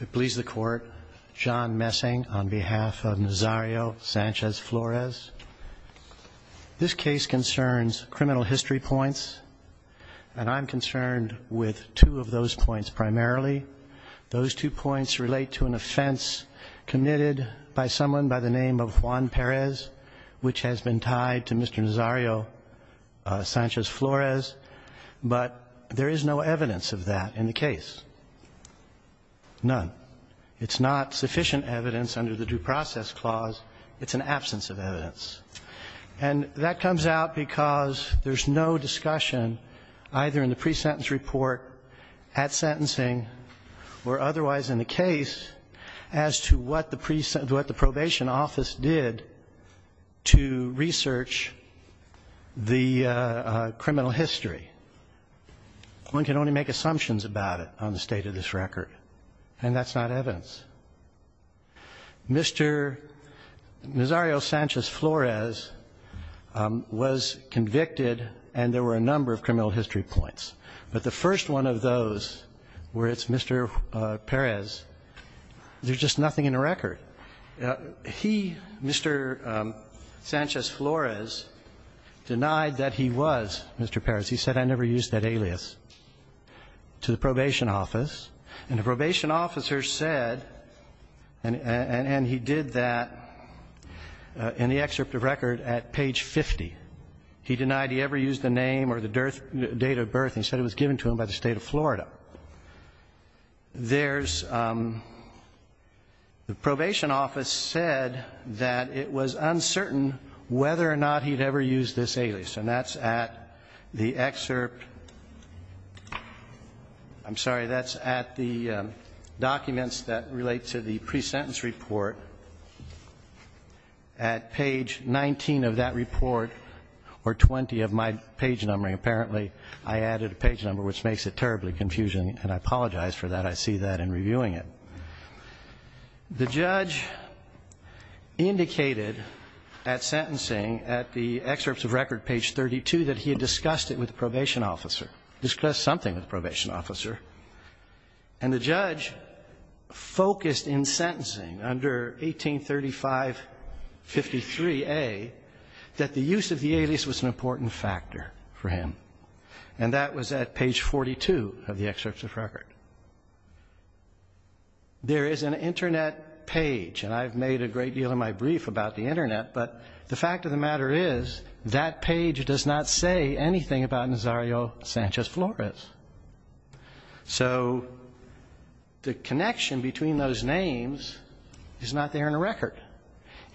It pleases the court, John Messing on behalf of Nazario Sanchez-Flores. This case concerns criminal history points, and I'm concerned with two of those points primarily. Those two points relate to an offense committed by someone by the name of Juan Perez, which has been tied to Mr. Nazario Sanchez-Flores, but there is no evidence of that in the case. None. It's not sufficient evidence under the Due Process Clause. It's an absence of evidence. And that comes out because there's no discussion, either in the pre-sentence report, at sentencing, or otherwise in the case, as to what the probation office did to research the criminal history. One can only make assumptions about it on the state of this record, and that's not evidence. Mr. Nazario Sanchez-Flores was convicted, and there were a number of criminal history points. But the first one of those, where it's Mr. Perez, there's just nothing in the record. He, Mr. Sanchez-Flores, denied that he was Mr. Perez. He said, I never used that alias, to the probation office. And the probation officer said, and he did that in the excerpt of record at page 50. He denied he ever used the name or the date of birth, and he said it was given to him by the State of Florida. There's, the probation office said that it was uncertain whether or not he'd ever used this alias. And that's at the excerpt, I'm sorry, that's at the documents that relate to the pre-sentence report, at page 19 of that report, or 20 of my page number. And apparently, I added a page number, which makes it terribly confusing, and I apologize for that. I see that in reviewing it. The judge indicated at sentencing, at the excerpts of record, page 32, that he had discussed it with the probation officer, discussed something with the probation officer. And the judge focused in sentencing under 183553A that the use of the alias was an important factor for him. And that was at page 42 of the excerpts of record. There is an Internet page, and I've made a great deal of my brief about the Internet, but the fact of the matter is that page does not say anything about Nazario Sanchez Flores. So the connection between those names is not there in the record.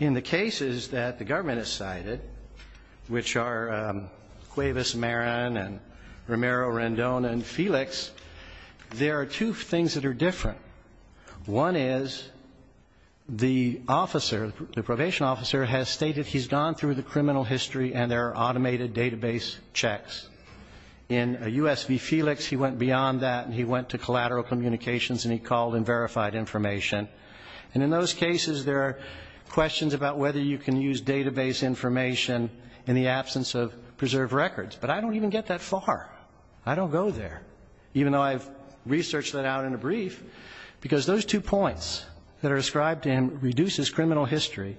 In the cases that the government has cited, which are Cuevas Marin and Romero Rendon and Felix, there are two things that are different. One is the officer, the probation officer, has stated he's gone through the criminal history and there are automated database checks. In U.S. v. Felix, he went beyond that and he went to collateral communications and he called and verified information. And in those cases, there are questions about whether you can use database information in the absence of preserved records. But I don't even get that far. I don't go there, even though I've researched that out in a brief, because those two points that are ascribed to him reduces criminal history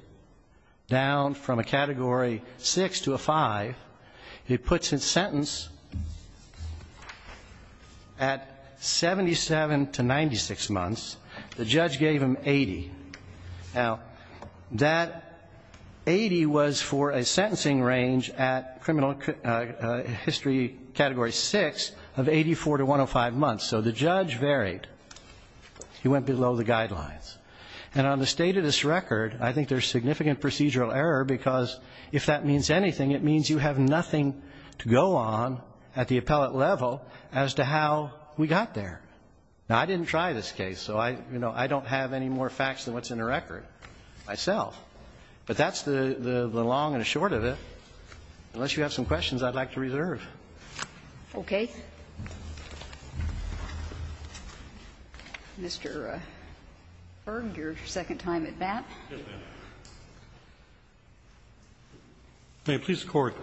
down from a Category 6 to a 5. He puts his sentence at 77 to 96 months. The judge gave him 80. Now, that 80 was for a sentencing range at criminal history Category 6 of 84 to 105 months. So the judge varied. He went below the guidelines. And on the state of this record, I think there's significant procedural error because if that means anything, it means you have nothing to go on at the appellate level as to how we got there. Now, I didn't try this case, so I, you know, I don't have any more facts than what's in the record myself. But that's the long and the short of it. Okay. Mr. Berg, your second time at bat. Yes, ma'am. Please, Court.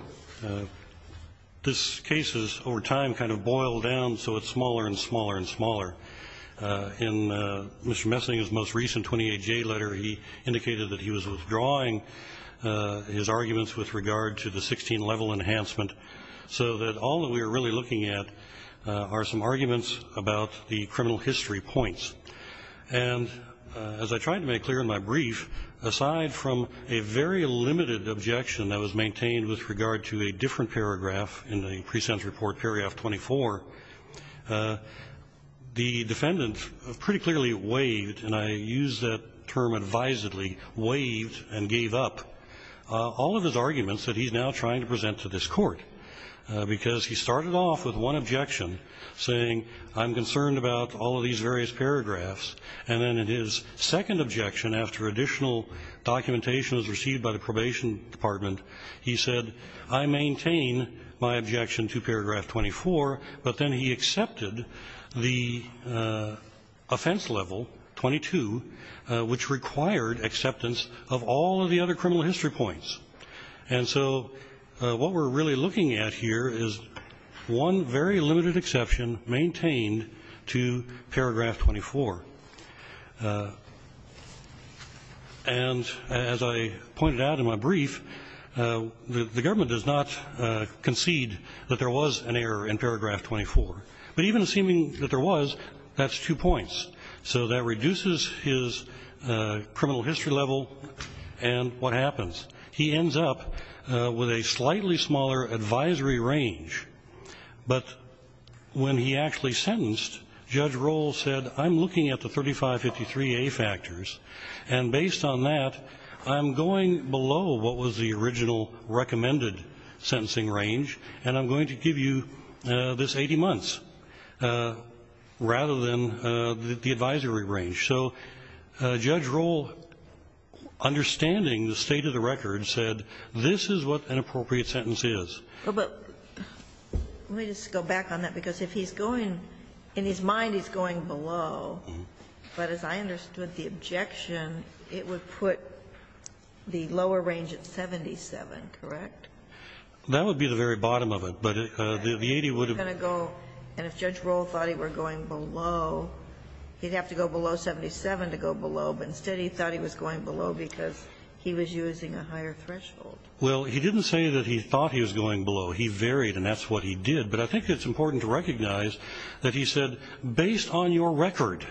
This case has over time kind of boiled down, so it's smaller and smaller and smaller. In Mr. Messing's most recent 28J letter, he indicated that he was withdrawing his arguments with regard to the 16-level enhancement. So that all that we are really looking at are some arguments about the criminal history points. And as I tried to make clear in my brief, aside from a very limited objection that was maintained with regard to a different paragraph in the pre-sentence report, paragraph 24, the defendant pretty clearly waived, and I use that term advisedly, waived and gave up all of his arguments that he's now trying to present to this court. Because he started off with one objection, saying, I'm concerned about all of these various paragraphs. And then in his second objection, after additional documentation was received by the Probation Department, he said, I maintain my objection to paragraph 24, but then he accepted the offense level, 22, which required acceptance of all of the other criminal history points. And so what we're really looking at here is one very limited exception maintained to paragraph 24. And as I pointed out in my brief, the government does not concede that there was an error in paragraph 24. But even assuming that there was, that's two points. So that reduces his criminal history level, and what happens? He ends up with a slightly smaller advisory range. But when he actually sentenced, Judge Roll said, I'm looking at the 3553A factors, and based on that, I'm going below what was the original recommended sentencing range, and I'm going to give you this 80 months, rather than the advisory range. So Judge Roll, understanding the state of the record, said this is what an appropriate sentence is. But let me just go back on that, because if he's going, in his mind he's going below, but as I understood the objection, it would put the lower range at 77, correct? That would be the very bottom of it, but the 80 would have been. And if Judge Roll thought he were going below, he'd have to go below 77 to go below, but instead he thought he was going below because he was using a higher threshold. Well, he didn't say that he thought he was going below. He varied, and that's what he did. But I think it's important to recognize that he said, based on your record,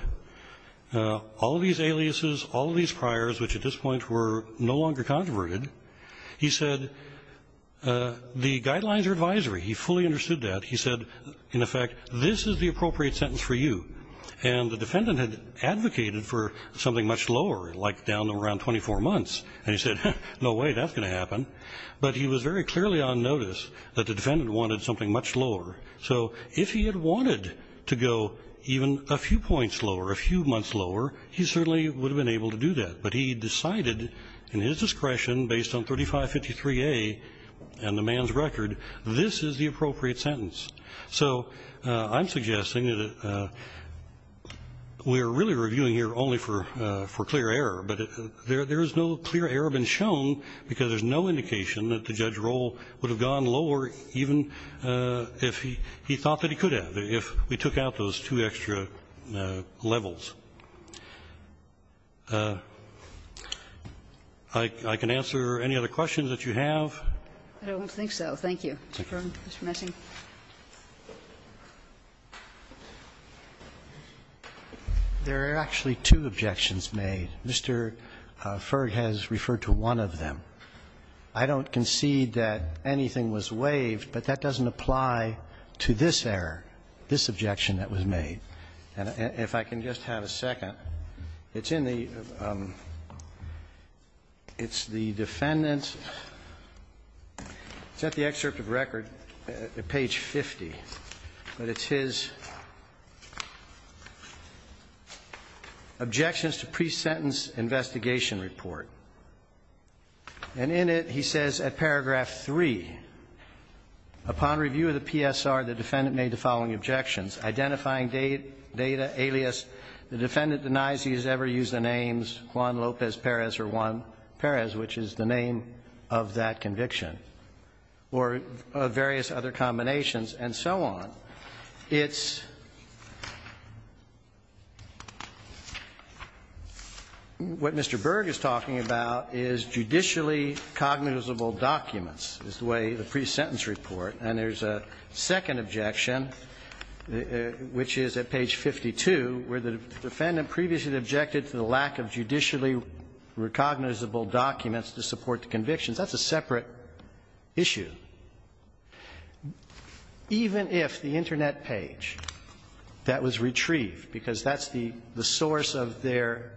all of these aliases, all of these priors, which at this point were no longer controverted, he said the guidelines are advisory. He fully understood that. He said, in effect, this is the appropriate sentence for you. And the defendant had advocated for something much lower, like down to around 24 months, and he said, no way, that's going to happen. But he was very clearly on notice that the defendant wanted something much lower. So if he had wanted to go even a few points lower, a few months lower, he certainly would have been able to do that. But he decided in his discretion, based on 3553A and the man's record, this is the So I'm suggesting that we're really reviewing here only for clear error, but there is no clear error been shown because there's no indication that the judge's role would have gone lower even if he thought that he could have, if we took out those two extra levels. I can answer any other questions that you have. Kagan. I don't think so. Thank you, Mr. Brown, Mr. Messing. There are actually two objections made. Mr. Ferg has referred to one of them. I don't concede that anything was waived, but that doesn't apply to this error, this objection that was made. And if I can just have a second. It's in the, it's the defendant's, is that the excerpt of record? Page 50, but it's his objections to pre-sentence investigation report. And in it, he says at paragraph 3, upon review of the PSR, the defendant made the following objections, identifying data alias, the defendant denies he has ever used the names Juan Lopez Perez or Juan Perez, which is the name of that conviction, or various other combinations, and so on. It's, what Mr. Berg is talking about is judicially cognizable documents, is the way the pre-sentence report, and there's a second objection, which is at page 52, where the defendant previously objected to the lack of judicially recognizable documents to support the convictions. That's a separate issue. Even if the Internet page that was retrieved, because that's the source of their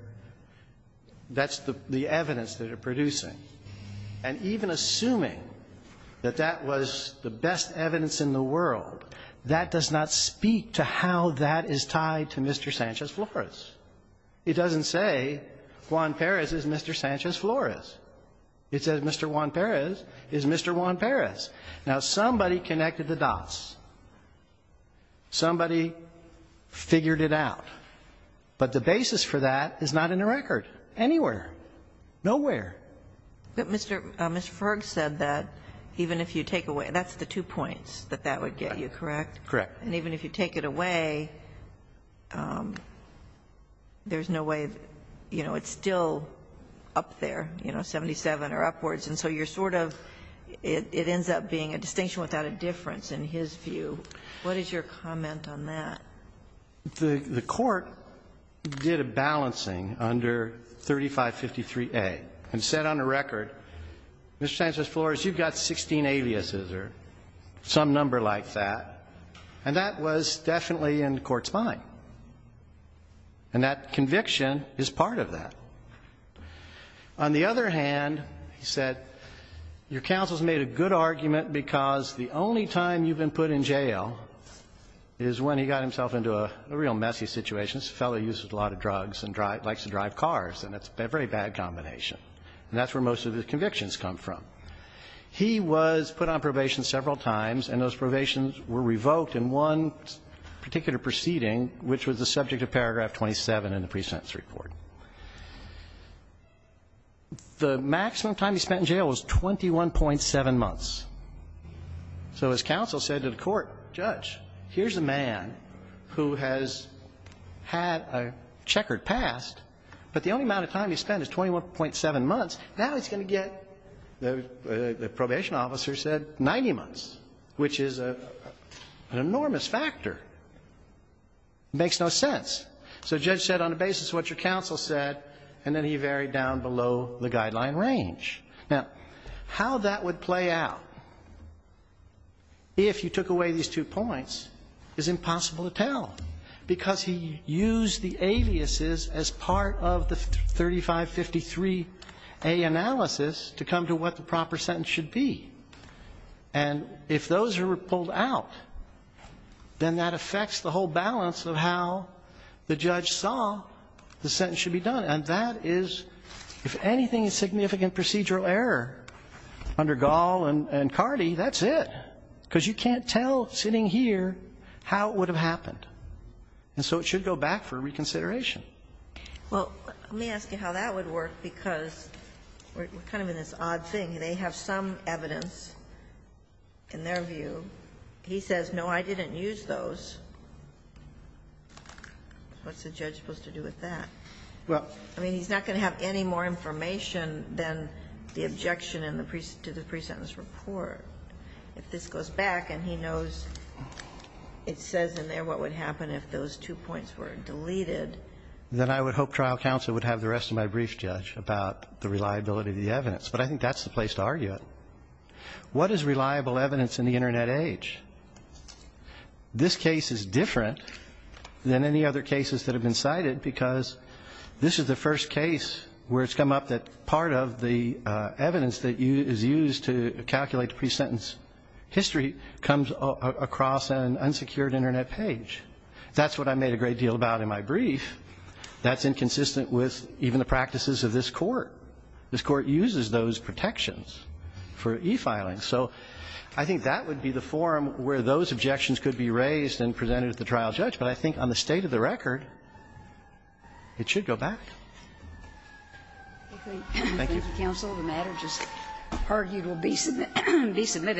that's the evidence that they're producing, and even assuming that that was the best evidence in the world, that does not speak to how that is tied to Mr. Sanchez-Flores. It doesn't say Juan Perez is Mr. Sanchez-Flores. It says Mr. Juan Perez is Mr. Juan Perez. Now, somebody connected the dots. Somebody figured it out. But the basis for that is not in the record. Anywhere. Nowhere. But, Mr. Ferg said that even if you take away, that's the two points that that would get you, correct? Correct. And even if you take it away, there's no way, you know, it's still up there. You know, 77 or upwards. And so you're sort of, it ends up being a distinction without a difference in his view. What is your comment on that? The court did a balancing under 3553A and said on the record, Mr. Sanchez-Flores, you've got 16 aliases or some number like that. And that was definitely in the court's mind. And that conviction is part of that. On the other hand, he said your counsel has made a good argument because the only time you've been put in jail is when he got himself into a real messy situation. This fellow uses a lot of drugs and likes to drive cars, and it's a very bad combination. And that's where most of his convictions come from. He was put on probation several times, and those probations were revoked in one particular proceeding, which was the subject of paragraph 27 in the pre-sentence report. The maximum time he spent in jail was 21.7 months. So his counsel said to the court, Judge, here's a man who has had a checkered past, but the only amount of time he spent is 21.7 months. Now he's going to get, the probation officer said, 90 months, which is an enormous factor. It makes no sense. So the judge said on the basis of what your counsel said, and then he varied down below the guideline range. Now, how that would play out if you took away these two points is impossible to tell, because he used the aliases as part of the 3553A analysis to come to what the proper sentence should be. And if those are pulled out, then that affects the whole balance of how the judge saw the sentence should be done. And that is, if anything is significant procedural error under Gall and Cardi, that's it, because you can't tell sitting here how it would have happened. And so it should go back for reconsideration. Well, let me ask you how that would work, because we're kind of in this odd thing. They have some evidence in their view. He says, no, I didn't use those. What's the judge supposed to do with that? Well, I mean, he's not going to have any more information than the objection in the presentence report. If this goes back and he knows it says in there what would happen if those two points were deleted. Then I would hope trial counsel would have the rest of my brief, Judge, about the reliability of the evidence. But I think that's the place to argue it. What is reliable evidence in the Internet age? This case is different than any other cases that have been cited because this is the first case where it's come up that part of the evidence that is used to calculate the pre-sentence history comes across an unsecured Internet page. That's what I made a great deal about in my brief. That's inconsistent with even the practices of this Court. This Court uses those protections for e-filing. So I think that would be the forum where those objections could be raised and presented at the trial, Judge. But I think on the state of the record, it should go back. Thank you. Thank you, counsel. The matter just argued will be submitted.